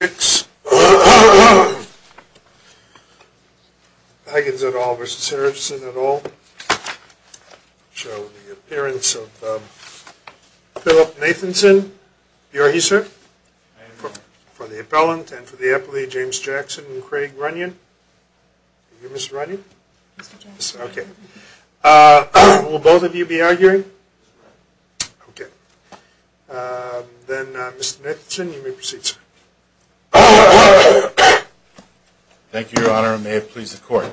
Higgins et al. v. Harrison et al. show the appearance of Philip Nathanson. Are you here, sir? I am, sir. For the appellant and for the appellee, James Jackson and Craig Runyon. Are you Mr. Runyon? Yes, sir. Okay. Will both of you be arguing? Okay. Then, Mr. Nathanson, you may proceed, sir. Thank you, Your Honor, and may it please the court.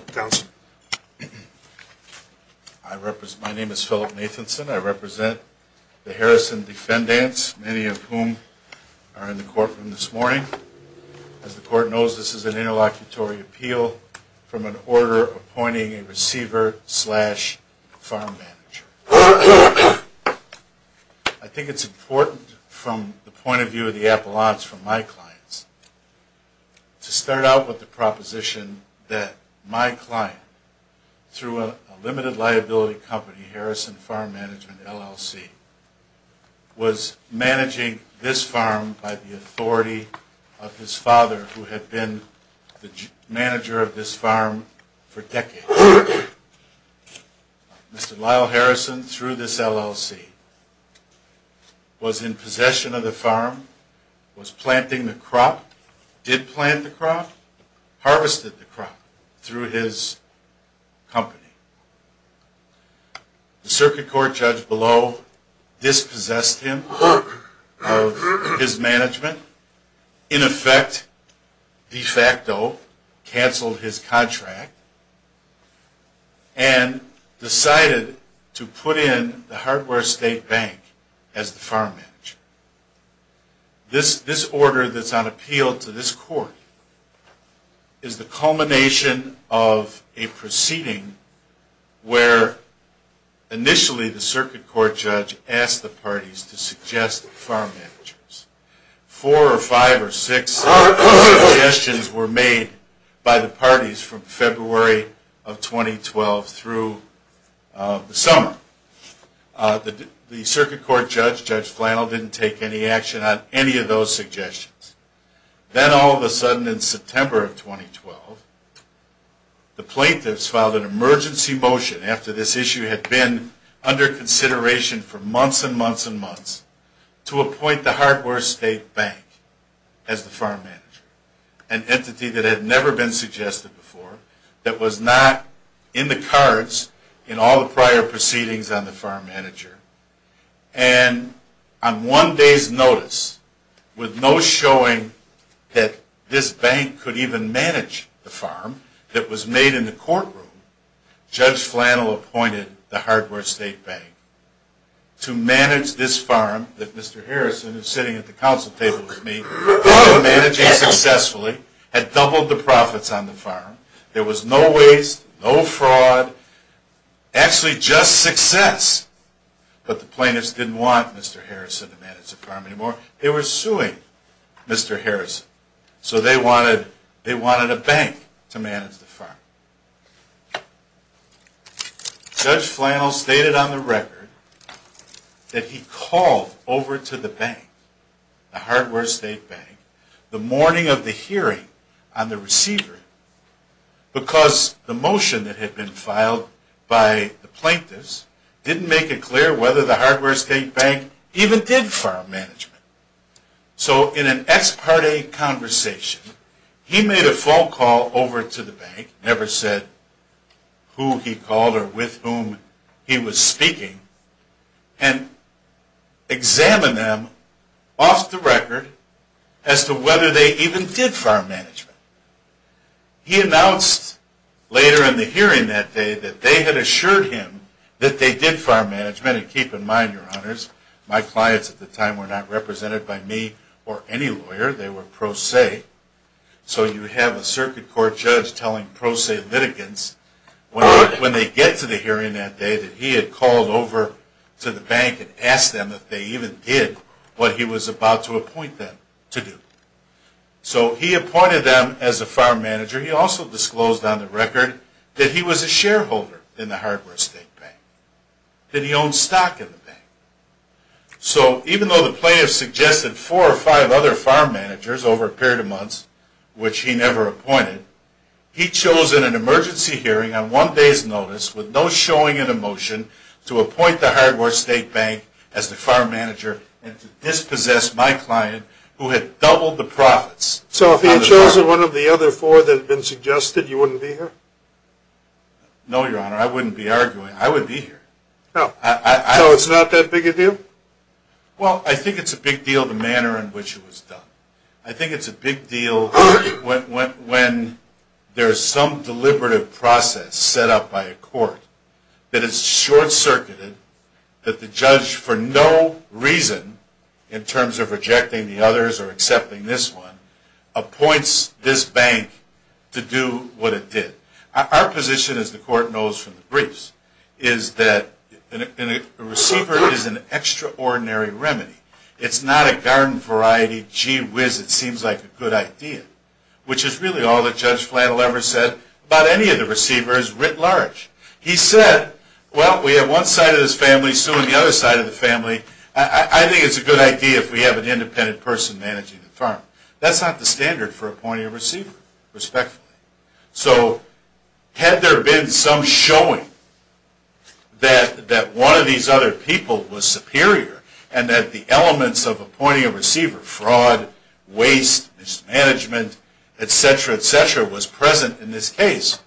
My name is Philip Nathanson. I represent the Harrison defendants, many of whom are in the courtroom this morning. As the court knows, this is an interlocutory appeal from an order appointing a receiver slash farm manager. I think it's important from the point of view of the appellants from my clients to start out with the proposition that my client, through a limited liability company, Harrison Farm Management, LLC, was managing this farm by the authority of his Mr. Lyle Harrison, through this LLC, was in possession of the farm, was planting the crop, did plant the crop, harvested the crop through his company. The circuit court judge below dispossessed him of his management, in effect de facto canceled his contract, and decided to put in the Hardware State Bank as the farm manager. This order that's on appeal to this court is the culmination of a proceeding where initially the circuit court judge asked the parties to suggest farm managers. Four or five or six suggestions were made by the parties from February of 2012 through the summer. The circuit court judge, Judge Flannel, didn't take any action on any of those suggestions. Then all of a sudden in September of 2012, the plaintiffs filed an emergency motion after this issue had been under consideration for months and months and months to appoint the Hardware State Bank as the farm manager, an entity that had never been suggested before, that was not in the cards in all the prior proceedings on the farm manager. And on one day's notice, with no showing that this bank could even manage the farm that was made in the courtroom, Judge Flannel appointed the Hardware State Bank to manage this farm that Mr. Harrison is sitting at the council table with me, had managed successfully, had doubled the profits on the farm. There was no waste, no fraud, actually just success. But the plaintiffs didn't want Mr. Harrison to manage the farm anymore. They were suing Mr. Harrison. So they wanted a bank to manage the farm. Judge Flannel stated on the record that he called over to the bank, the Hardware State Bank, the morning of the hearing on the receiver, because the motion that had been filed by the plaintiffs didn't make it clear whether the Hardware State Bank even did farm management. So in an ex parte conversation, he made a phone call over to the bank, never said who he called or with whom he was speaking, and examined them off the record as to whether they even did farm management. He had assured him that they did farm management. And keep in mind, your honors, my clients at the time were not represented by me or any lawyer. They were pro se. So you have a circuit court judge telling pro se litigants when they get to the hearing that day that he had called over to the bank and asked them if they even did what he was about to appoint them to do. So he appointed them as a farm manager. He also disclosed on the record that he was a shareholder in the Hardware State Bank, that he owned stock in the bank. So even though the plaintiffs suggested four or five other farm managers over a period of months, which he never appointed, he chose in an emergency hearing on one day's notice with no showing in a motion to appoint the Hardware State Bank as the farm manager and to dispossess my client who had doubled the No, your honor. I wouldn't be arguing. I would be here. So it's not that big a deal? Well, I think it's a big deal the manner in which it was done. I think it's a big deal when there's some deliberative process set up by a court that is short-circuited, that the judge for no reason, in terms of rejecting the others or accepting this one, appoints this bank to do what it did. Our position, as the court knows from the briefs, is that a receiver is an extraordinary remedy. It's not a garden-variety, gee whiz, it seems like a good idea, which is really all that Judge Flannel ever said about any of the receivers writ large. He said, well, we have one side of this family suing the other side of the family. I think it's a good idea if we have an independent person managing the farm. That's not the standard for appointing a receiver, respectfully. So had there been some showing that one of these other people was superior and that the elements of appointing a receiver, fraud, waste, mismanagement, etc., etc., was present in this case.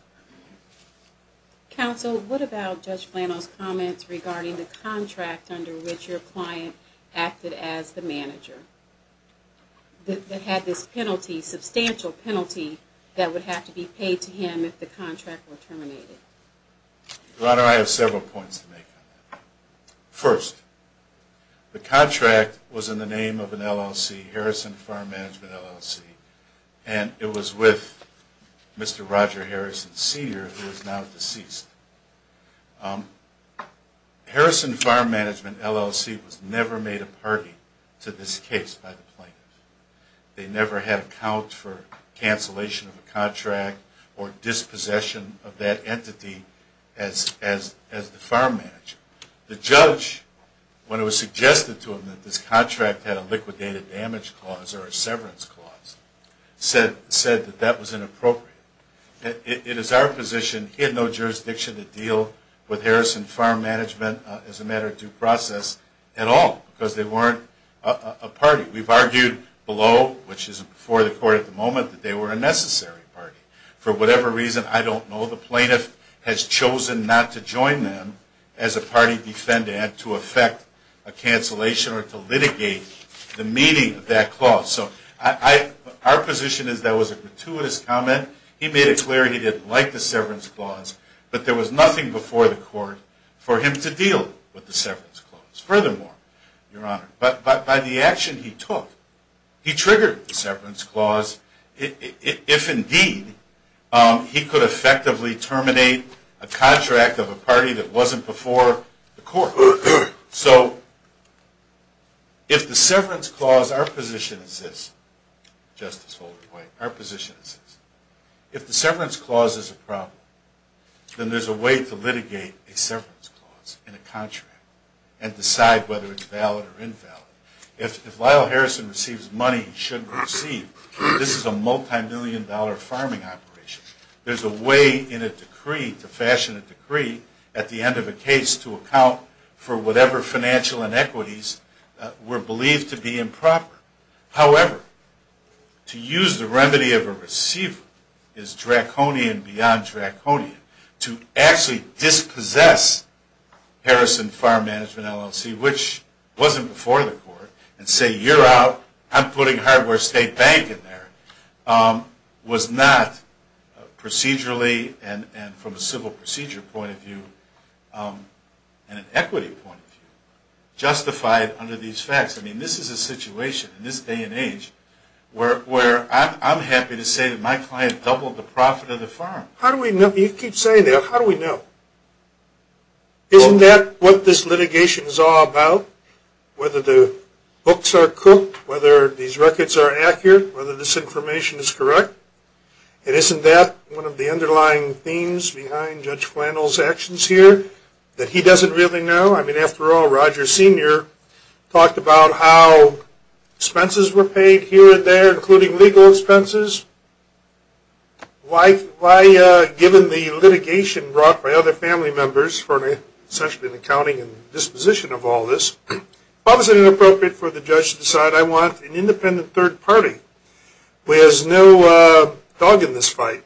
Counsel, what about Judge Flannel's comments regarding the contract under which your client acted as the manager, that had this penalty, substantial penalty, that would have to be paid to him if the contract were terminated? Your Honor, I have several points to make on that. First, the contract was in the name of an LLC, Harrison Farm Management LLC, and it was with Mr. Roger Harrison Sr., who is now deceased. Harrison Farm Management LLC was never made a party to this case by the plaintiff. They never had accounts for cancellation of a contract or dispossession of that entity as the farm manager. The judge, when it was suggested to him that this contract had a liquidated damage clause or a severance clause, said that that was inappropriate. It is our position, he had no jurisdiction to deal with Harrison Farm Management as a matter of due process at all because they weren't a party. We've argued below, which is before the court at the moment, that they were a necessary party. For whatever reason, I don't know. The plaintiff has chosen not to join them as a party defendant to effect a cancellation or to litigate the meaning of that clause. So our position is that was a gratuitous comment. He made it clear he didn't like the severance clause, but there was nothing before the court for him to deal with the severance clause. Furthermore, Your Honor, but by the action he took, he triggered the severance clause if indeed he could effectively terminate a contract of a court. So if the severance clause, our position is this, Justice Holder White, our position is this. If the severance clause is a problem, then there's a way to litigate a severance clause in a contract and decide whether it's valid or invalid. If Lyle Harrison receives money he shouldn't receive, this is a multimillion dollar farming operation. There's a way in a decree to fashion a account for whatever financial inequities were believed to be improper. However, to use the remedy of a receiver is draconian beyond draconian. To actually dispossess Harrison Farm Management LLC, which wasn't before the court, and say you're out, I'm point of view, justified under these facts. I mean, this is a situation in this day and age where I'm happy to say that my client doubled the profit of the farm. How do we know? You keep saying that. How do we know? Isn't that what this litigation is all about, whether the books are cooked, whether these records are accurate, whether this information is correct? And isn't that one of the underlying themes behind Judge Flannell's actions here that he doesn't really know? I mean, after all, Roger Sr. talked about how expenses were paid here and there, including legal expenses. Why, given the litigation brought by other family members for an assessment of accounting and disposition of all this, why was it inappropriate for the judge to decide I want an independent third party who has no dog in this fight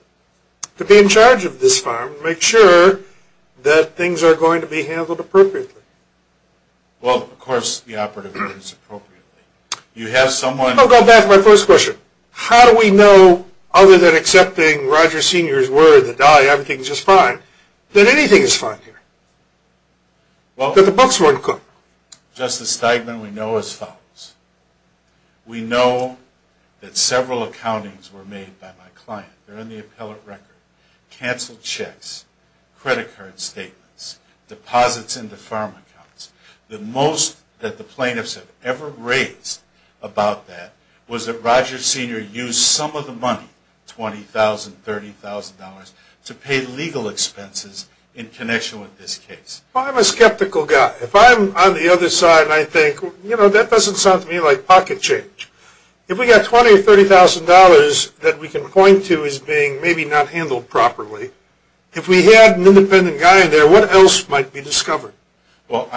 to be in charge of this farm and make sure that things are going to be handled appropriately? Well, of course the operative did this appropriately. You have someone... I'll go back to my first question. How do we know, other than accepting Roger Sr.'s word that everything is just fine, that anything is fine here? That the books weren't cooked? Justice Steigman, we know as follows. We know that several accountings were made by my client. They're in the appellate record. Canceled checks, credit card statements, deposits into farm accounts. The most that the plaintiffs have ever raised about that was that Roger Sr. used some of the money, $20,000, $30,000, to pay legal expenses in connection with this case. Well, I'm a skeptical guy. If I'm on the other side, I think, you know, that doesn't sound to me like pocket change. If we got $20,000 or $30,000 that we can point to as being maybe not handled properly, if we had an independent guy in there, what else might be discovered? Well,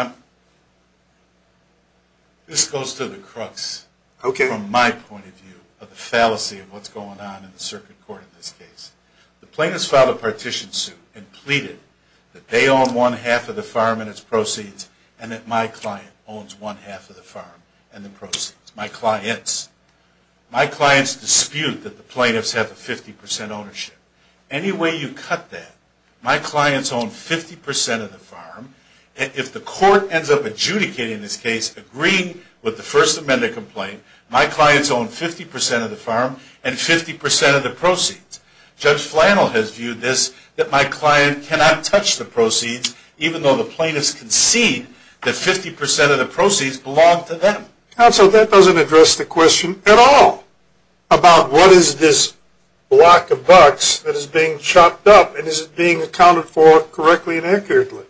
this goes to the crux, from my point of view, of the fallacy of what's going on in the circuit court in this case. The plaintiffs filed a partition suit and pleaded that they own one half of the farm and its proceeds, and that my client owns one half of the farm and the proceeds. My clients. My clients dispute that the plaintiffs have a 50% ownership. Any way you cut that, my clients own 50% of the farm. If the court ends up adjudicating this case, agreeing with the First Amendment complaint, my clients own 50% of the farm and 50% of the proceeds. Judge Flannel has viewed this, that my client cannot touch the proceeds, even though the plaintiffs concede that 50% of the proceeds belong to them. Counsel, that doesn't address the question at all about what is this block of bucks that is being chopped up and is it being accounted for correctly and accurately.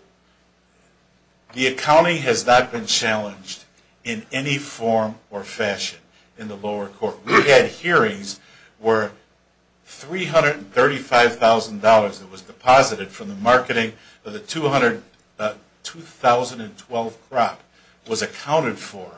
The accounting has not been challenged in any form or fashion in the lower court. We had hearings where $335,000 that was deposited from the marketing of the 2012 crop was accounted for,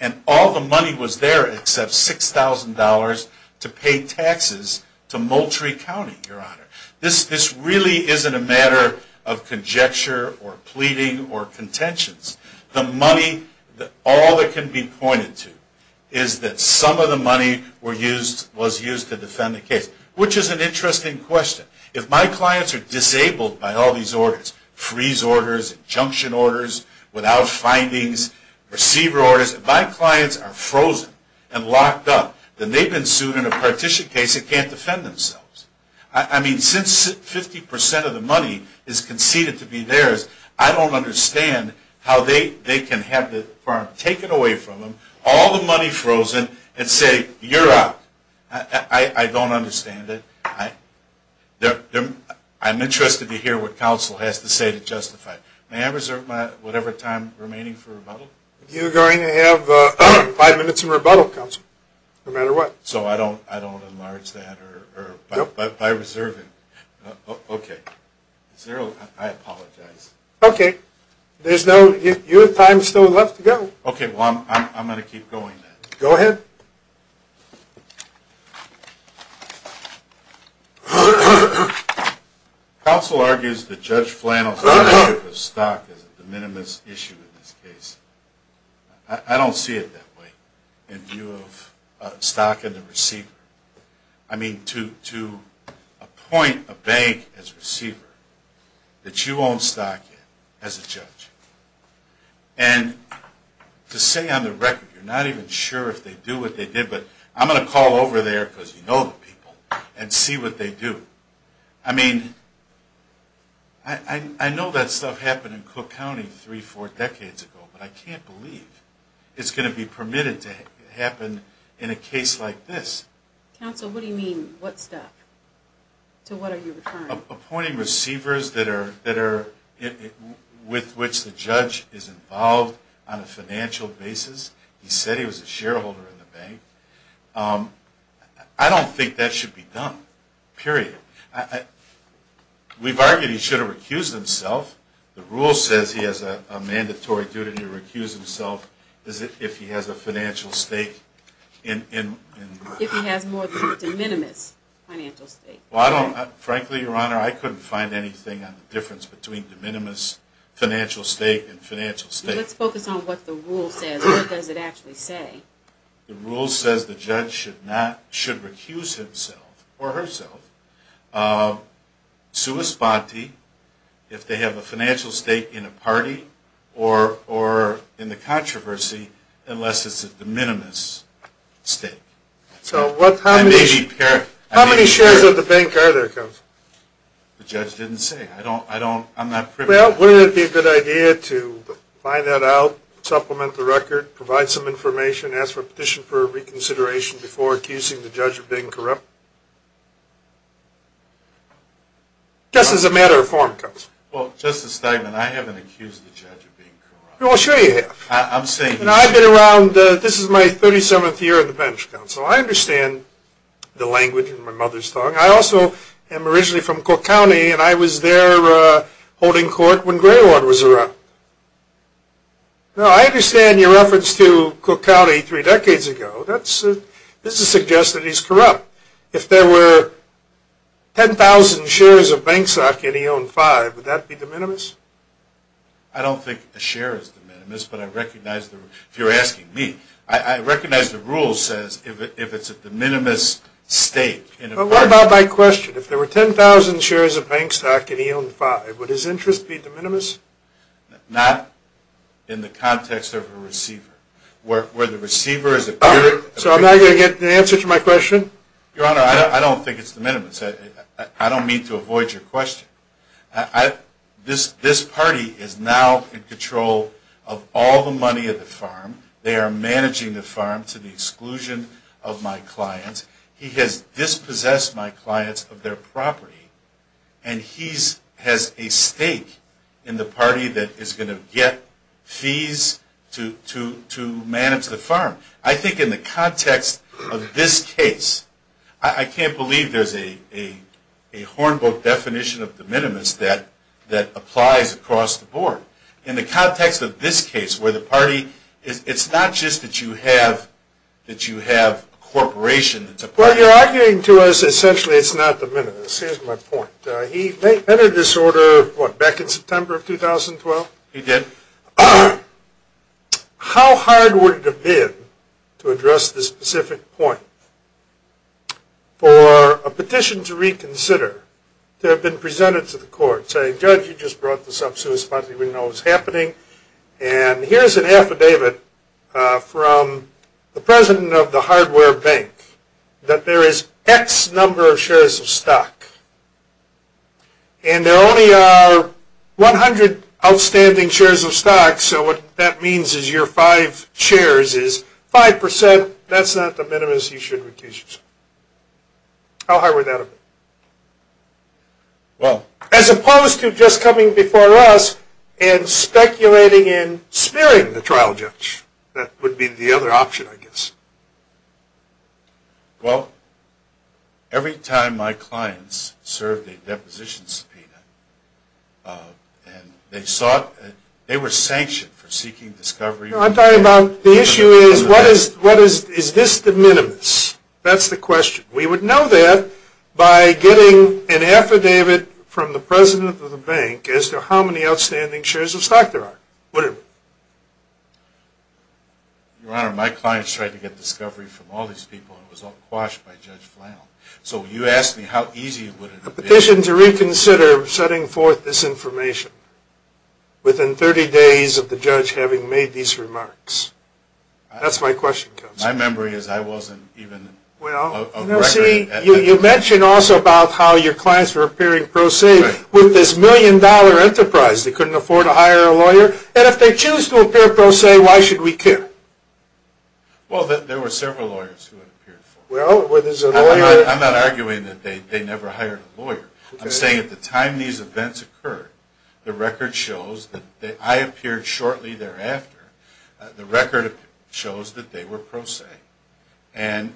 and all the money was there except $6,000 to pay taxes to Moultrie County, Your Honor. This really isn't a matter of conjecture or pleading or contentions. The money, all that can be pointed to is that some of the money was used to defend the case, which is an interesting question. If my clients are disabled by all these orders, freeze orders, injunction orders, without findings, receiver orders, if my clients are frozen and locked up, then they've been sued in a partition case that can't defend themselves. I mean, since 50% of the money is conceded to be theirs, I don't understand how they can have the farm taken away from them, all the money frozen, and say, you're out. I don't understand it. I'm interested to hear what counsel has to say to justify it. May I reserve whatever time remaining for rebuttal? You're going to have five minutes in rebuttal, counsel, no matter what. So I don't enlarge that by reserving? No. Okay. I apologize. Okay. You have time still left to go. Okay. Well, I'm going to keep going then. Go ahead. Counsel argues that Judge Flannell's issue of stock is a de minimis issue in this case. I don't see it that way, in view of stock and the receiver. I mean, to appoint a bank as receiver, that you own stock in, as a judge. And to say on the record, you're not even sure if they do what they did, but I'm going to call over there, because you know the people, and see what they do. I mean, I know that stuff happened in Cook County three, four decades ago, but I can't believe it's going to be permitted to happen in a case like this. Counsel, what do you mean, what stuff? To what are you referring? Appointing receivers that are, with which the judge is involved on a financial basis. He said he was a shareholder in the bank. I don't think that should be done. Period. We've argued he should have recused himself. The rule says he has a mandatory duty to recuse himself, if he has a financial stake. If he has more than a de minimis financial stake. Frankly, Your Honor, I couldn't find anything on the difference between de minimis financial stake and financial stake. Let's focus on what the rule says. What does it actually say? The rule says the judge should recuse himself, or herself, sua sponte, if they have a financial stake in a party, or in the controversy, unless it's a de minimis stake. So, how many shares of the bank are there, Counsel? The judge didn't say. I'm not privy to that. Well, wouldn't it be a good idea to find that out, supplement the record, provide some information, ask for a petition for reconsideration before accusing the judge of being corrupt? Just as a matter of form, Counsel. Well, Justice Steinman, I haven't accused the judge of being corrupt. I'm saying you should. You know, I've been around, this is my 37th year on the bench, Counsel. I understand the language in my mother's tongue. I also am originally from Cook County, and I was there holding court when Greywater was around. Now, I understand your reference to Cook County three decades ago. That's, this is to suggest that he's corrupt. If there were 10,000 shares of Banksock, and he owned five, would that be de minimis? I don't think a share is de minimis, but I recognize the rule. If you're asking me, I recognize the rule says if it's a de minimis stake. Well, what about my question? If there were 10,000 shares of Banksock, and he owned five, would his interest be de minimis? Not in the context of a receiver. Where the receiver is a peer. So, I'm not going to get an answer to my question? Your Honor, I don't think it's de minimis. I don't mean to avoid your question. This party is now in control of all the money at the farm. They are managing the farm to the exclusion of my clients. He has dispossessed my clients of their property. And he has a stake in the party that is going to get fees to manage the farm. I think in the context of this case, I can't believe there's a Hornbill definition of de minimis that applies across the board. In the context of this case, where the party, it's not just that you have a corporation. Well, you're arguing to us essentially it's not de minimis. Here's my point. He entered this order, what, back in September of 2012? He did. How hard would it have been to address this specific point? For a petition to reconsider to have been presented to the court saying, Judge, you just brought this up so we know what's happening. And here's an affidavit from the president of the hardware bank. And there only are 100 outstanding shares of stock. So what that means is your five shares is 5%. That's not de minimis. You should retreat. How hard would that have been? Well, as opposed to just coming before us and speculating and smearing the trial judge. That would be the other option, I guess. Well, every time my clients served a deposition subpoena, they were sanctioned for seeking discovery. I'm talking about the issue is, is this de minimis? That's the question. We would know that by getting an affidavit from the president of the bank as to how many outstanding shares of stock there are. Your Honor, my clients tried to get discovery from all these people and it was all quashed by Judge Flannell. So you ask me how easy would it have been? A petition to reconsider setting forth this information within 30 days of the judge having made these remarks. That's my question, Counselor. My memory is I wasn't even a record at that point. Well, see, you mentioned also about how your clients were appearing pro se with this million-dollar enterprise. They couldn't afford to hire a lawyer. And if they choose to appear pro se, why should we care? Well, there were several lawyers who had appeared for it. I'm not arguing that they never hired a lawyer. I'm saying at the time these events occurred, the record shows that I appeared shortly thereafter. The record shows that they were pro se. And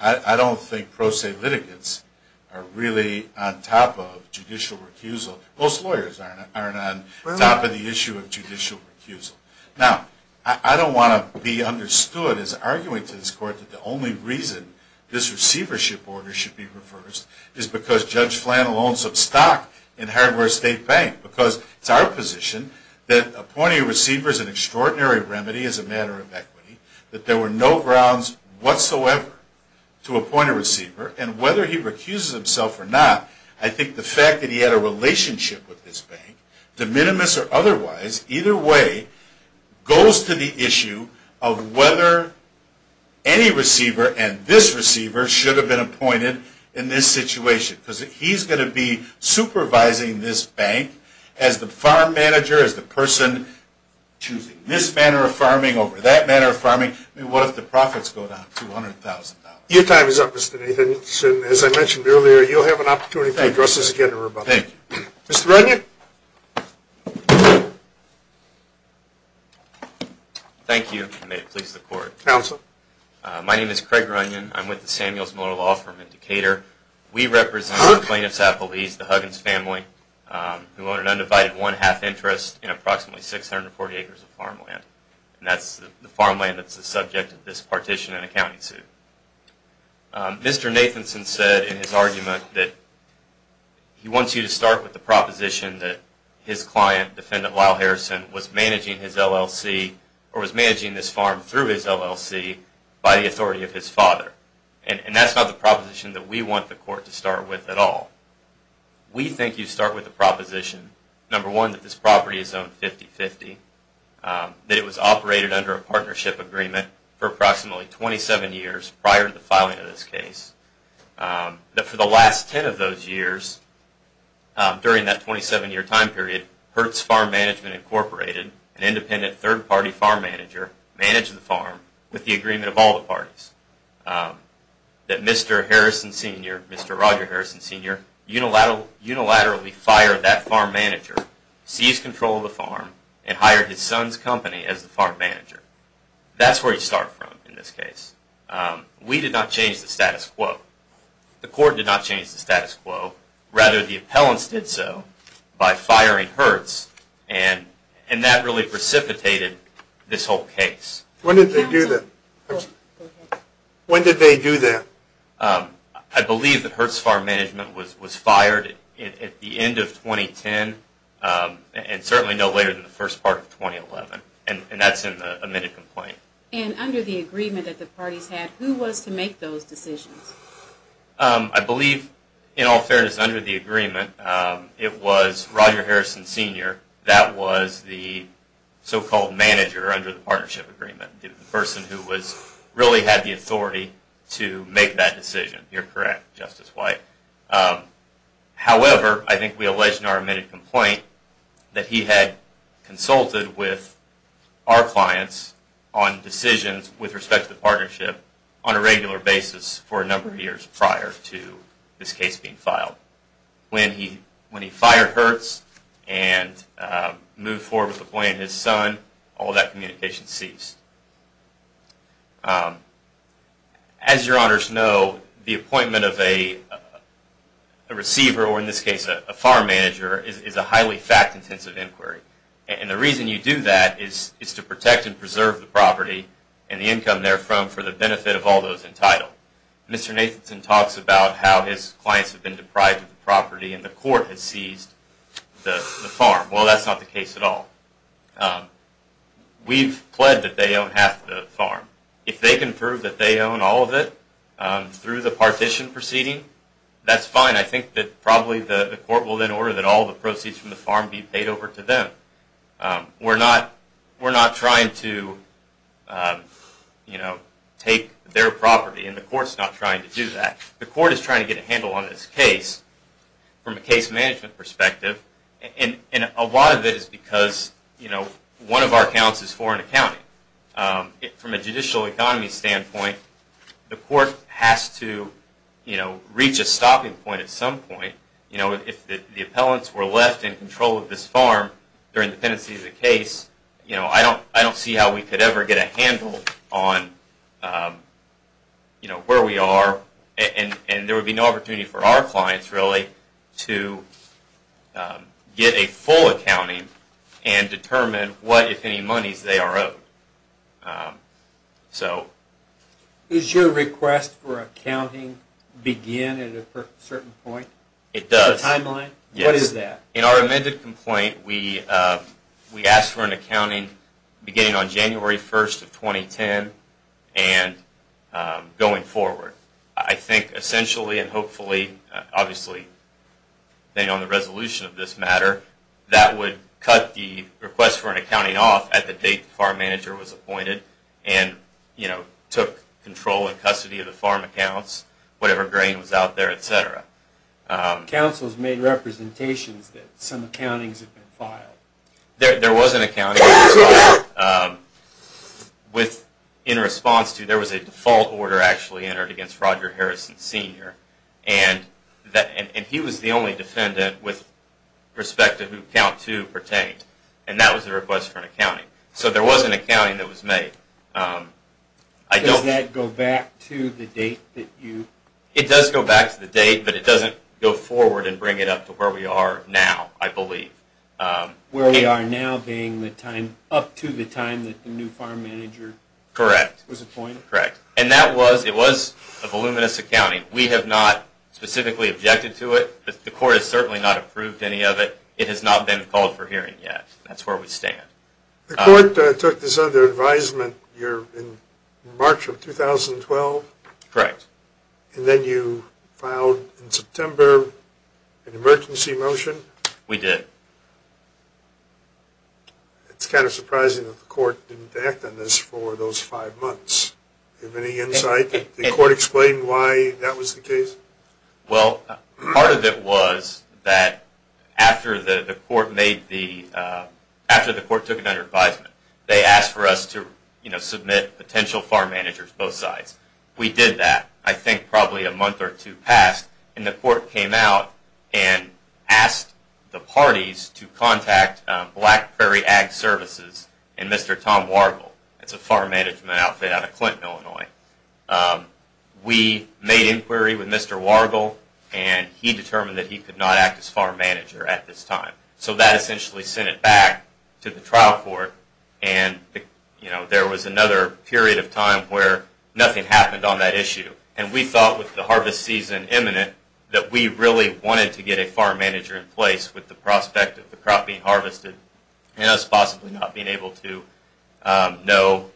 I don't think pro se litigants are really on top of judicial recusal. Most lawyers aren't on top of the issue of judicial recusal. Now, I don't want to be understood as arguing to this Court that the only reason this receivership order should be reversed is because Judge Flannell owns some stock in Hardware State Bank. Because it's our position that appointing a receiver is an extraordinary remedy as a matter of equity, that there were no grounds whatsoever to appoint a receiver, and whether he recuses himself or not, I think the fact that he had a relationship with this bank, de minimis or otherwise, either way, goes to the issue of whether any receiver and this receiver should have been appointed in this situation. Because he's going to be supervising this bank as the farm manager, as the person choosing this manner of farming over that manner of farming. I mean, what if the profits go down $200,000? Your time is up, Mr. Nathanson. As I mentioned earlier, you'll have an opportunity to address this again in rebuttal. Thank you. Mr. Runyon? Thank you, and may it please the Court. Counsel? My name is Craig Runyon. I'm with the Samuels Miller Law Firm in Decatur. We represent the plaintiffs' appellees, the Huggins family, who own an undivided one-half interest in approximately 640 acres of farmland. And that's the farmland that's the subject of this partition and accounting suit. Mr. Nathanson said in his argument that he wants you to start with the proposition that his client, Defendant Lyle Harrison, was managing his LLC, or was managing this farm through his LLC, by the authority of his father. And that's not the proposition that we want the Court to start with at all. We think you start with the proposition, number one, that this property is owned 50-50, that it was operated under a partnership agreement for approximately 27 years prior to the filing of this case, that for the last 10 of those years, during that 27-year time period, Hertz Farm Management Incorporated, an independent third-party farm manager, managed the farm with the agreement of all the parties, that Mr. Harrison Sr., Mr. Roger Harrison Sr., unilaterally fired that farm manager, seized control of the farm, and hired his son's company as the farm manager. That's where you start from in this case. We did not change the status quo. The Court did not change the status quo. Rather, the appellants did so by firing Hertz, and that really precipitated this whole case. When did they do that? When did they do that? I believe that Hertz Farm Management was fired at the end of 2010, and certainly no later than the first part of 2011, and that's in the amended complaint. And under the agreement that the parties had, who was to make those decisions? I believe, in all fairness, under the agreement, it was Roger Harrison Sr. That was the so-called manager under the partnership agreement. The person who really had the authority to make that decision. You're correct, Justice White. However, I think we allege in our amended complaint that he had consulted with our clients on decisions with respect to the partnership on a regular basis for a number of years prior to this case being filed. When he fired Hertz and moved forward with employing his son, all that communication ceased. As your honors know, the appointment of a receiver, or in this case a farm manager, is a highly fact-intensive inquiry. And the reason you do that is to protect and preserve the property and the income therefrom for the benefit of all those entitled. Now, Mr. Nathanson talks about how his clients have been deprived of the property and the court has seized the farm. Well, that's not the case at all. We've pled that they own half the farm. If they can prove that they own all of it through the partition proceeding, that's fine. I think that probably the court will then order that all the proceeds from the farm be paid over to them. We're not trying to take their property, and the court's not trying to do that. The court is trying to get a handle on this case from a case management perspective. And a lot of it is because one of our counts is foreign accounting. From a judicial economy standpoint, the court has to reach a stopping point at some point. If the appellants were left in control of this farm during the pendency of the case, I don't see how we could ever get a handle on where we are. And there would be no opportunity for our clients, really, to get a full accounting and determine what, if any, monies they are owed. Does your request for accounting begin at a certain point? It does. A timeline? Yes. What is that? In our amended complaint, we asked for an accounting beginning on January 1st of 2010 and going forward. I think, essentially, and hopefully, obviously, depending on the resolution of this matter, that would cut the request for an accounting off at the date the farm manager was appointed and took control and custody of the farm accounts, whatever grain was out there, etc. Counsel has made representations that some accountings have been filed. There was an accounting that was filed. In response to, there was a default order actually entered against Roger Harrison Sr. and he was the only defendant with respect to who Count 2 pertained, and that was the request for an accounting. So there was an accounting that was made. Does that go back to the date that you... It does go back to the date, but it doesn't go forward and bring it up to where we are now, I believe. Where we are now being the time, up to the time that the new farm manager... Correct. ...was appointed? Correct. And that was, it was a voluminous accounting. We have not specifically objected to it. The court has certainly not approved any of it. It has not been called for hearing yet. That's where we stand. The court took this under advisement in March of 2012? Correct. And then you filed in September an emergency motion? We did. It's kind of surprising that the court didn't act on this for those five months. Do you have any insight? Did the court explain why that was the case? Well, part of it was that after the court made the... after the court took it under advisement, they asked for us to, you know, submit potential farm managers, both sides. We did that. I think probably a month or two passed, and the court came out and asked the parties to contact Black Prairie Ag Services and Mr. Tom Wargel. It's a farm management outfit out of Clinton, Illinois. We made inquiry with Mr. Wargel, and he determined that he could not act as farm manager at this time. So that essentially sent it back to the trial court, and, you know, there was another period of time where nothing happened on that issue. And we thought with the harvest season imminent that we really wanted to get a farm manager in place with the prospect of the crop being harvested and us possibly not being able to know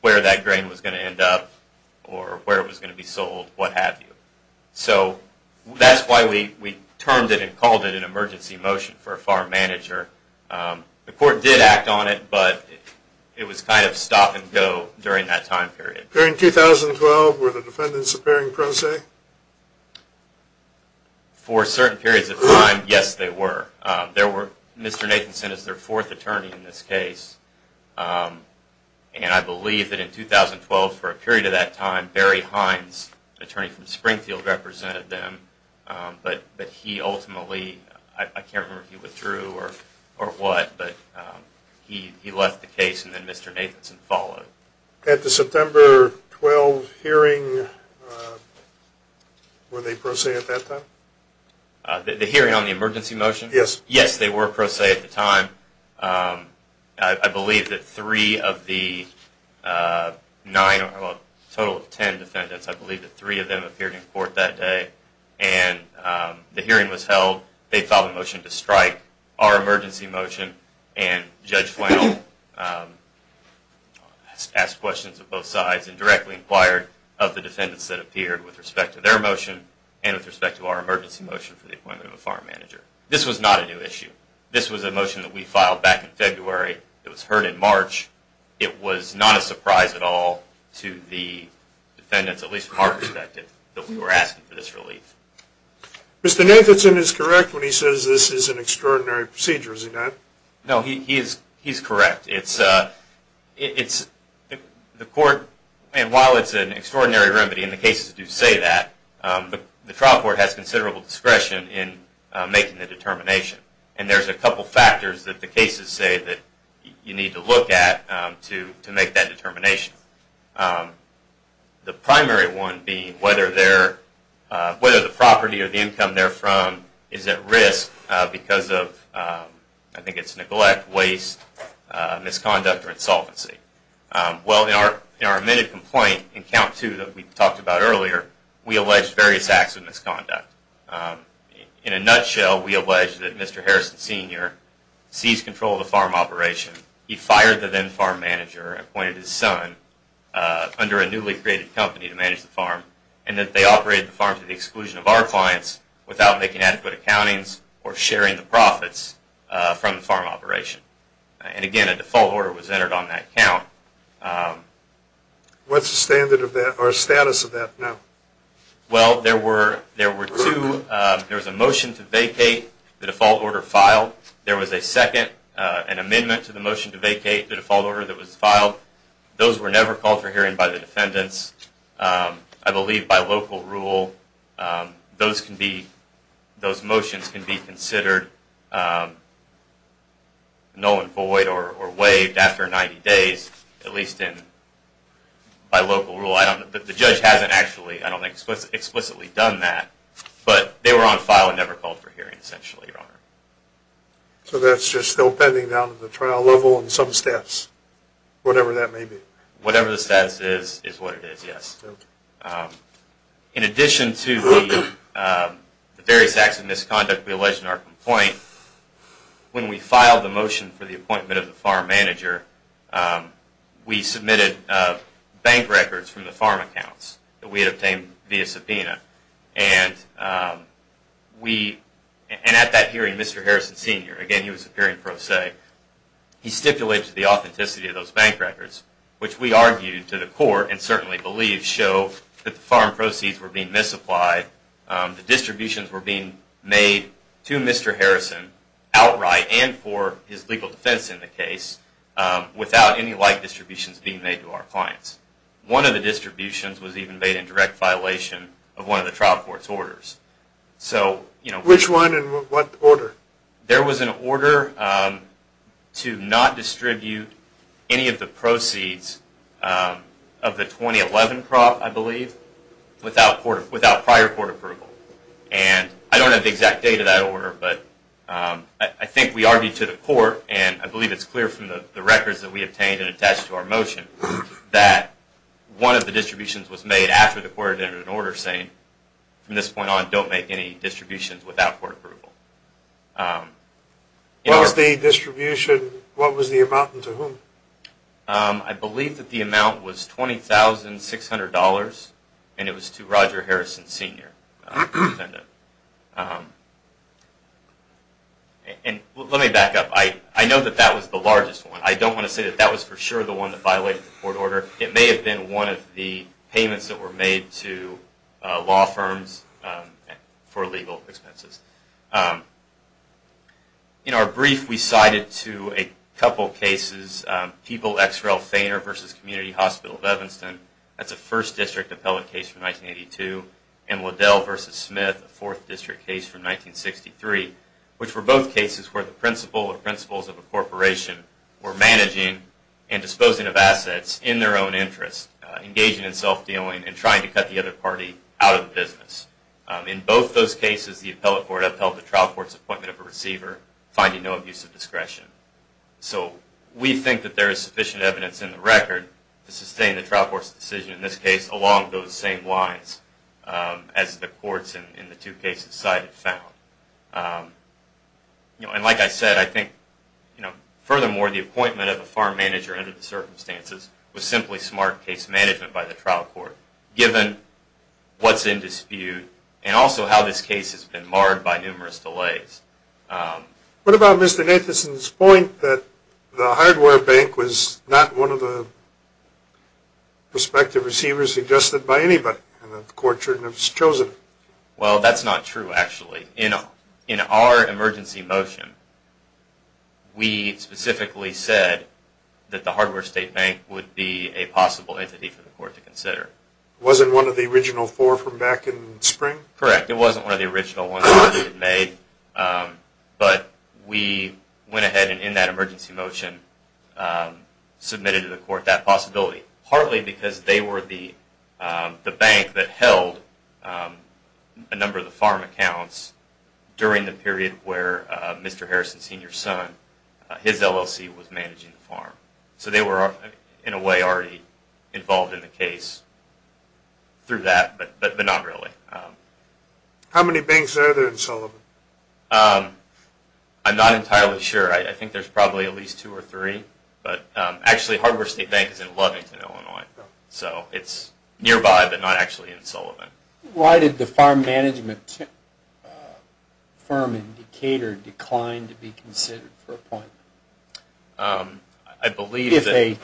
where that grain was going to end up or where it was going to be sold, what have you. So that's why we termed it and called it an emergency motion for a farm manager. The court did act on it, but it was kind of stop and go during that time period. During 2012 were the defendants appearing pro se? For certain periods of time, yes, they were. Mr. Nathanson is their fourth attorney in this case, and I believe that in 2012 for a period of that time Barry Hines, attorney from Springfield, represented them, but he ultimately, I can't remember if he withdrew or what, but he left the case and then Mr. Nathanson followed. At the September 12 hearing, were they pro se at that time? The hearing on the emergency motion? Yes. Yes, they were pro se at the time. I believe that three of the nine or a total of ten defendants, I believe that three of them appeared in court that day, and the hearing was held. They filed a motion to strike our emergency motion, and Judge Flannel asked questions of both sides and directly inquired of the defendants that appeared with respect to their motion and with respect to our emergency motion for the appointment of a farm manager. This was not a new issue. This was a motion that we filed back in February. It was heard in March. It was not a surprise at all to the defendants, at least from our perspective, that we were asking for this relief. Mr. Nathanson is correct when he says this is an extraordinary procedure, is he not? No, he's correct. It's the court, and while it's an extraordinary remedy, and the cases do say that, the trial court has considerable discretion in making the determination, and there's a couple factors that the cases say that you need to look at to make that determination. The primary one being whether the property or the income they're from is at risk because of, I think it's neglect, waste, misconduct, or insolvency. Well, in our admitted complaint in Count 2 that we talked about earlier, we allege various acts of misconduct. In a nutshell, we allege that Mr. Harrison Sr. seized control of the farm operation. He fired the then farm manager, appointed his son under a newly created company to manage the farm, and that they operated the farm to the exclusion of our clients without making adequate accountings or sharing the profits from the farm operation. And again, a default order was entered on that count. What's the status of that now? Well, there was a motion to vacate. The default order filed. There was a second, an amendment to the motion to vacate, the default order that was filed. Those were never called for hearing by the defendants. I believe by local rule, those motions can be considered null and void or waived after 90 days, at least by local rule. The judge hasn't actually, I don't think, explicitly done that, but they were on file and never called for hearing, essentially, Your Honor. So that's just still pending down at the trial level in some steps, whatever that may be? Whatever the status is, is what it is, yes. In addition to the various acts of misconduct we allege in our complaint, when we filed the motion for the appointment of the farm manager, we submitted bank records from the farm accounts that we had obtained via subpoena, and at that hearing, Mr. Harrison Sr., again, he was appearing pro se, he stipulated the authenticity of those bank records, which we argued to the court and certainly believe show that the farm proceeds were being misapplied, the distributions were being made to Mr. Harrison outright and for his legal defense in the case, without any like distributions being made to our clients. One of the distributions was even made in direct violation of one of the trial court's orders. Which one and what order? There was an order to not distribute any of the proceeds of the 2011 prop, I believe, without prior court approval. And I don't have the exact date of that order, but I think we argued to the court, and I believe it's clear from the records that we obtained and attached to our motion, that one of the distributions was made after the court entered an order saying, from this point on, don't make any distributions without court approval. What was the distribution, what was the amount and to whom? I believe that the amount was $20,600 and it was to Roger Harrison Sr., the defendant. And let me back up, I know that that was the largest one, but I don't want to say that that was for sure the one that violated the court order. It may have been one of the payments that were made to law firms for legal expenses. In our brief, we cited to a couple cases, People x Ralph Thainer v. Community Hospital of Evanston, that's a 1st District appellate case from 1982, and Liddell v. Smith, a 4th District case from 1963, which were both cases where the principle or principles of a corporation were managing and disposing of assets in their own interest, engaging in self-dealing and trying to cut the other party out of business. In both those cases, the appellate court upheld the trial court's appointment of a receiver, finding no abuse of discretion. So we think that there is sufficient evidence in the record to sustain the trial court's decision in this case along those same lines as the courts in the two cases cited found. And like I said, I think, furthermore, the appointment of a farm manager under the circumstances was simply smart case management by the trial court, given what's in dispute and also how this case has been marred by numerous delays. What about Mr. Nathanson's point that the hardware bank was not one of the prospective receivers suggested by anybody and that the court shouldn't have chosen it? Well, that's not true, actually. In our emergency motion, we specifically said that the hardware state bank would be a possible entity for the court to consider. It wasn't one of the original four from back in spring? Correct. It wasn't one of the original ones that we had made, but we went ahead and, in that emergency motion, submitted to the court that possibility, partly because they were the bank that held a number of the farm accounts during the period where Mr. Harrison's senior son, his LLC, was managing the farm. So they were, in a way, already involved in the case through that, but not really. How many banks are there in Sullivan? I'm not entirely sure. I think there's probably at least two or three. Actually, the hardware state bank is in Lovington, Illinois. So it's nearby, but not actually in Sullivan. Why did the farm management firm in Decatur decline to be considered for appointment? I believe that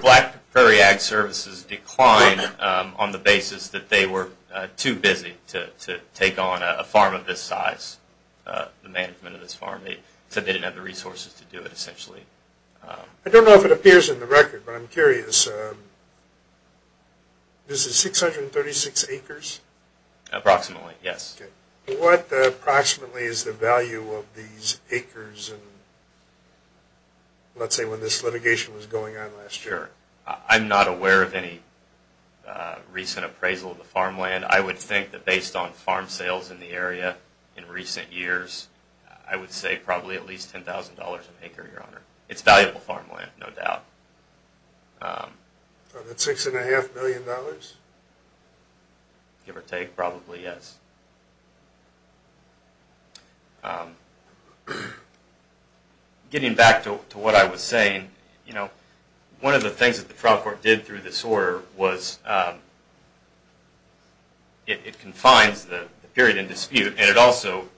Black Prairie Ag Services declined on the basis that they were too busy to take on a farm of this size, the management of this farm. They said they didn't have the resources to do it, essentially. I don't know if it appears in the record, but I'm curious. Is it 636 acres? Approximately, yes. What, approximately, is the value of these acres, let's say, when this litigation was going on last year? I'm not aware of any recent appraisal of the farmland. I would think that based on farm sales in the area in recent years, I would say probably at least $10,000 an acre, Your Honor. It's valuable farmland, no doubt. Is that $6.5 million? $6.5 million? Give or take, probably yes. Getting back to what I was saying, one of the things that the trial court did through this order was it confines the period in dispute, and it also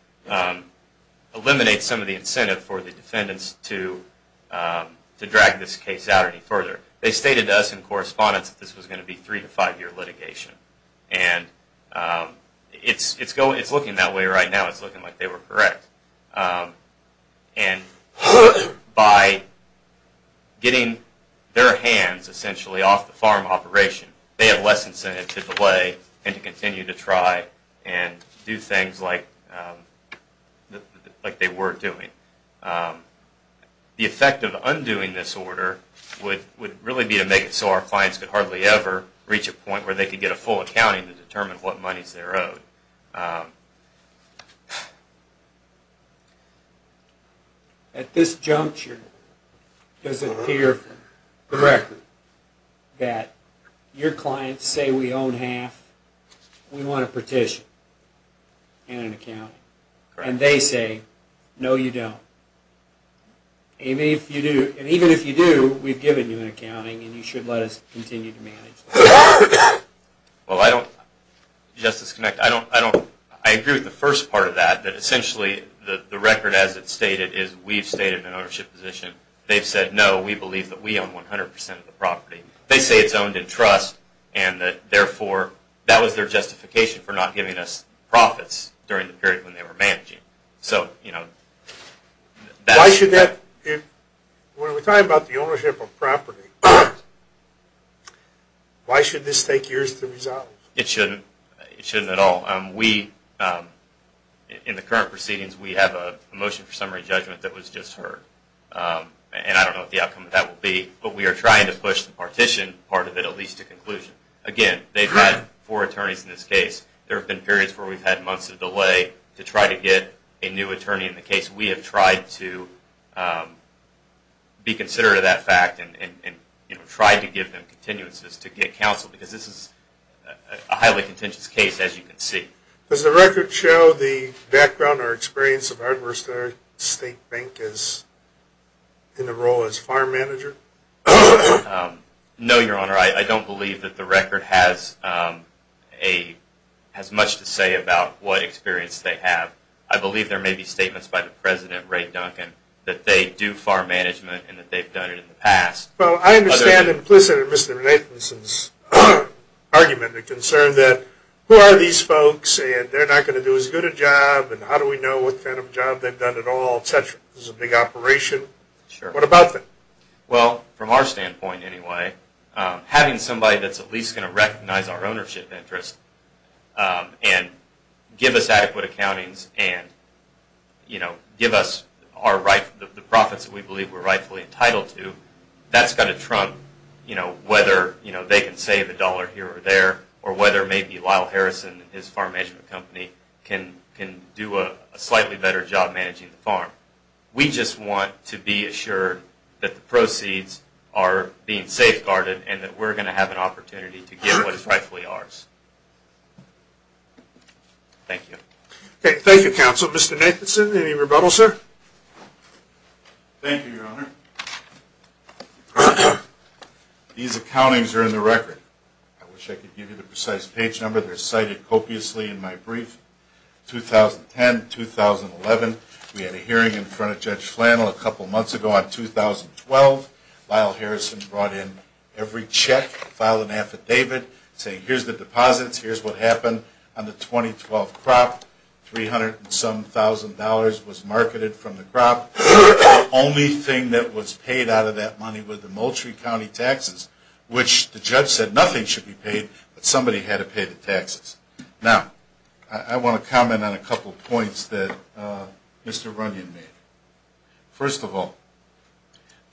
eliminates some of the incentive for the defendants to drag this case out any further. They stated to us in correspondence that this was going to be three- to five-year litigation. It's looking that way right now. It's looking like they were correct. By getting their hands, essentially, off the farm operation, they have less incentive to delay and to continue to try and do things like they were doing. The effect of undoing this order would really be to make it so our clients could hardly ever reach a point where they could get a full accounting to determine what monies they're owed. At this juncture, does it appear correctly that your clients say, We want a petition and an accounting. And they say, No, you don't. Even if you do, we've given you an accounting, and you should let us continue to manage this. Well, I don't… Justice Connect, I agree with the first part of that, that essentially the record as it's stated is we've stated an ownership position. They've said, No, we believe that we own 100% of the property. They say it's owned in trust, and therefore, that was their justification for not giving us profits during the period when they were managing. Why should that… When we're talking about the ownership of property, why should this take years to resolve? It shouldn't. It shouldn't at all. In the current proceedings, we have a motion for summary judgment that was just heard. And I don't know what the outcome of that will be, but we are trying to push the partition part of it at least to conclusion. Again, they've had four attorneys in this case. There have been periods where we've had months of delay to try to get a new attorney in the case. We have tried to be considerate of that fact and tried to give them continuances to get counsel because this is a highly contentious case, as you can see. Does the record show the background or experience of Ardmore State Bank in the role as farm manager? No, Your Honor. I don't believe that the record has much to say about what experience they have. I believe there may be statements by the President, Ray Duncan, that they do farm management and that they've done it in the past. Well, I understand implicit in Mr. Nathanson's argument the concern that who are these folks and they're not going to do as good a job and how do we know what kind of job they've done at all, etc. This is a big operation. What about them? Well, from our standpoint anyway, having somebody that's at least going to recognize our ownership interest and give us adequate accountings and give us the profits that we believe we're rightfully entitled to, that's going to trump whether they can save a dollar here or there or whether maybe Lyle Harrison and his farm management company can do a slightly better job managing the farm. We just want to be assured that the proceeds are being safeguarded and that we're going to have an opportunity to give what is rightfully ours. Thank you. Thank you, Counsel. Mr. Nathanson, any rebuttal, sir? Thank you, Your Honor. These accountings are in the record. I wish I could give you the precise page number. They're cited copiously in my brief. 2010-2011, we had a hearing in front of Judge Flannel a couple months ago. In 2012, Lyle Harrison brought in every check, filed an affidavit saying here's the deposits, here's what happened on the 2012 crop. Three hundred and some thousand dollars was marketed from the crop. The only thing that was paid out of that money were the Moultrie County taxes, which the judge said nothing should be paid, but somebody had to pay the taxes. Now, I want to comment on a couple points that Mr. Runyon made. First of all,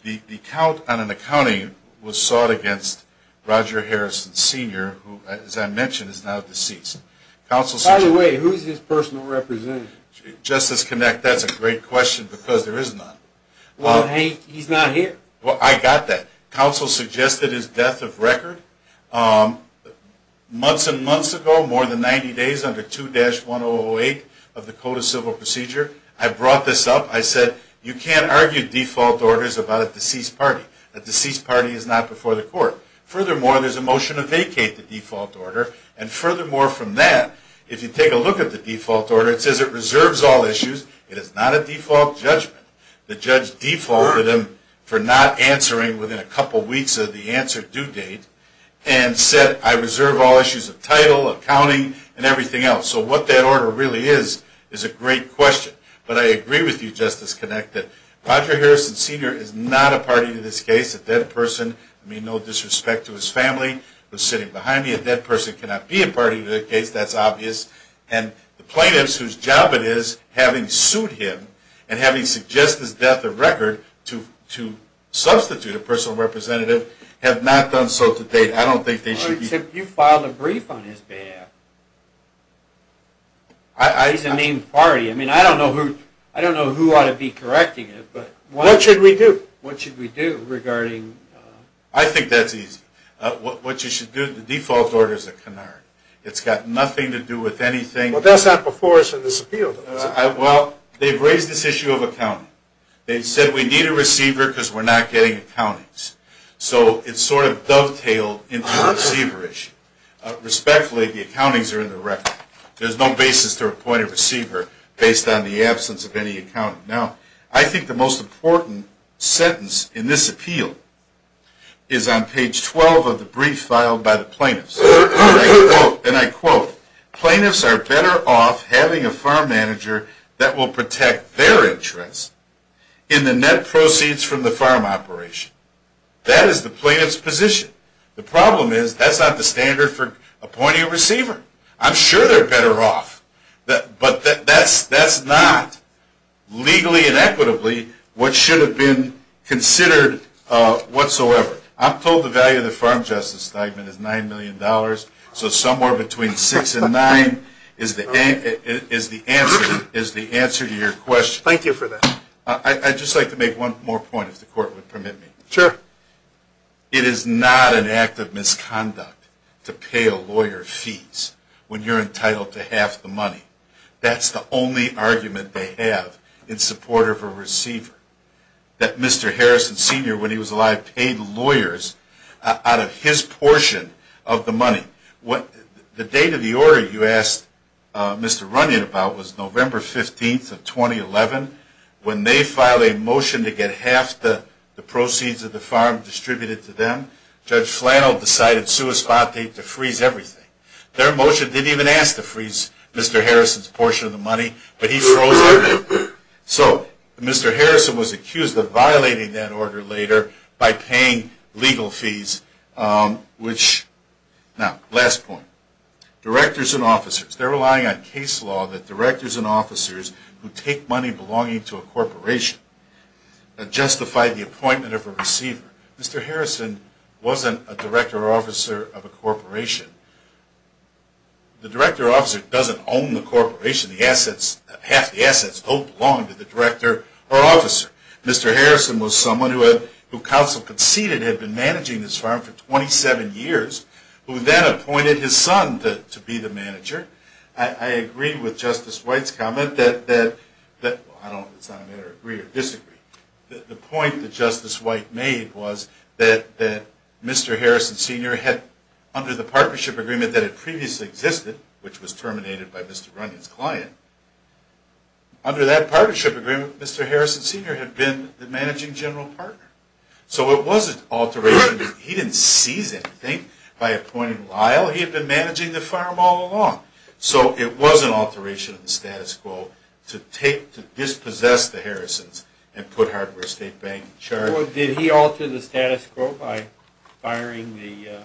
the count on an accounting was sought against Roger Harrison, Sr., who, as I mentioned, is now deceased. By the way, who is his personal representative? Justice Connick, that's a great question because there is none. Well, he's not here. I got that. Counsel suggested his death of record. Months and months ago, more than 90 days under 2-1008 of the Code of Civil Procedure, I brought this up. I said you can't argue default orders about a deceased party. A deceased party is not before the court. Furthermore, there's a motion to vacate the default order, and furthermore from that, if you take a look at the default order, it says it reserves all issues. It is not a default judgment. The judge defaulted him for not answering within a couple weeks of the answer due date and said I reserve all issues of title, accounting, and everything else. So what that order really is is a great question. But I agree with you, Justice Connick, that Roger Harrison, Sr. is not a party to this case, a dead person. I mean no disrespect to his family who are sitting behind me. A dead person cannot be a party to the case. That's obvious. And the plaintiffs whose job it is having sued him and having suggested his death of record to substitute a personal representative have not done so to date. I don't think they should be. Except you filed a brief on his behalf. He's a named party. I mean I don't know who ought to be correcting him. What should we do? What should we do regarding? I think that's easy. What you should do, the default order is a canard. It's got nothing to do with anything. But that's not before us in this appeal. Well, they've raised this issue of accounting. They've said we need a receiver because we're not getting accountings. So it's sort of dovetailed into a receiver issue. Respectfully, the accountings are in the record. There's no basis to appoint a receiver based on the absence of any accounting. Now, I think the most important sentence in this appeal is on page 12 of the brief filed by the plaintiffs. And I quote, Plaintiffs are better off having a farm manager that will protect their interests in the net proceeds from the farm operation. That is the plaintiff's position. The problem is that's not the standard for appointing a receiver. I'm sure they're better off. But that's not legally and equitably what should have been considered whatsoever. I'm told the value of the farm justice stipend is $9 million. So somewhere between 6 and 9 is the answer to your question. Thank you for that. I'd just like to make one more point, if the court would permit me. Sure. It is not an act of misconduct to pay a lawyer fees when you're entitled to half the money. That's the only argument they have in support of a receiver. That Mr. Harrison Sr., when he was alive, paid lawyers out of his portion of the money. The date of the order you asked Mr. Runyon about was November 15th of 2011. When they filed a motion to get half the proceeds of the farm distributed to them, Judge Flannel decided sua spati to freeze everything. Their motion didn't even ask to freeze Mr. Harrison's portion of the money, but he froze everything. So Mr. Harrison was accused of violating that order later by paying legal fees. Now, last point. Directors and officers. They're relying on case law that directors and officers who take money belonging to a corporation justify the appointment of a receiver. Mr. Harrison wasn't a director or officer of a corporation. The director or officer doesn't own the corporation. Half the assets don't belong to the director or officer. Mr. Harrison was someone who counsel conceded had been managing this farm for 27 years who then appointed his son to be the manager. I agree with Justice White's comment that the point that Justice White made was that Mr. Harrison Sr. had, under the partnership agreement that had previously existed, which was terminated by Mr. Runyon's client, under that partnership agreement Mr. Harrison Sr. had been the managing general partner. So it wasn't alteration. He didn't seize anything by appointing Lyle. He had been managing the farm all along. So it was an alteration of the status quo to dispossess the Harrisons and put Hardware State Bank in charge. So did he alter the status quo by firing the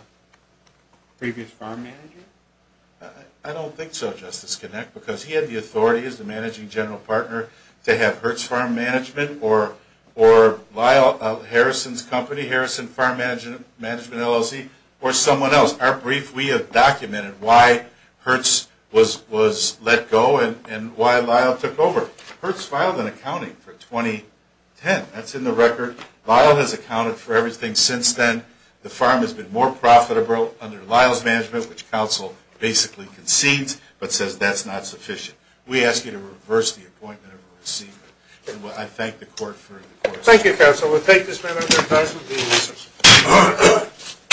previous farm manager? I don't think so, Justice Kinnick, because he had the authority as the managing general partner to have Hertz Farm Management or Lyle, Harrison's company, Harrison Farm Management LLC, or someone else. Our brief, we have documented why Hertz was let go and why Lyle took over. Hertz filed an accounting for 2010. That's in the record. Lyle has accounted for everything since then. The farm has been more profitable under Lyle's management, which counsel basically concedes, but says that's not sufficient. We ask you to reverse the appointment of a receiver. I thank the court for the court's decision. Thank you, counsel. We'll take this matter under advice.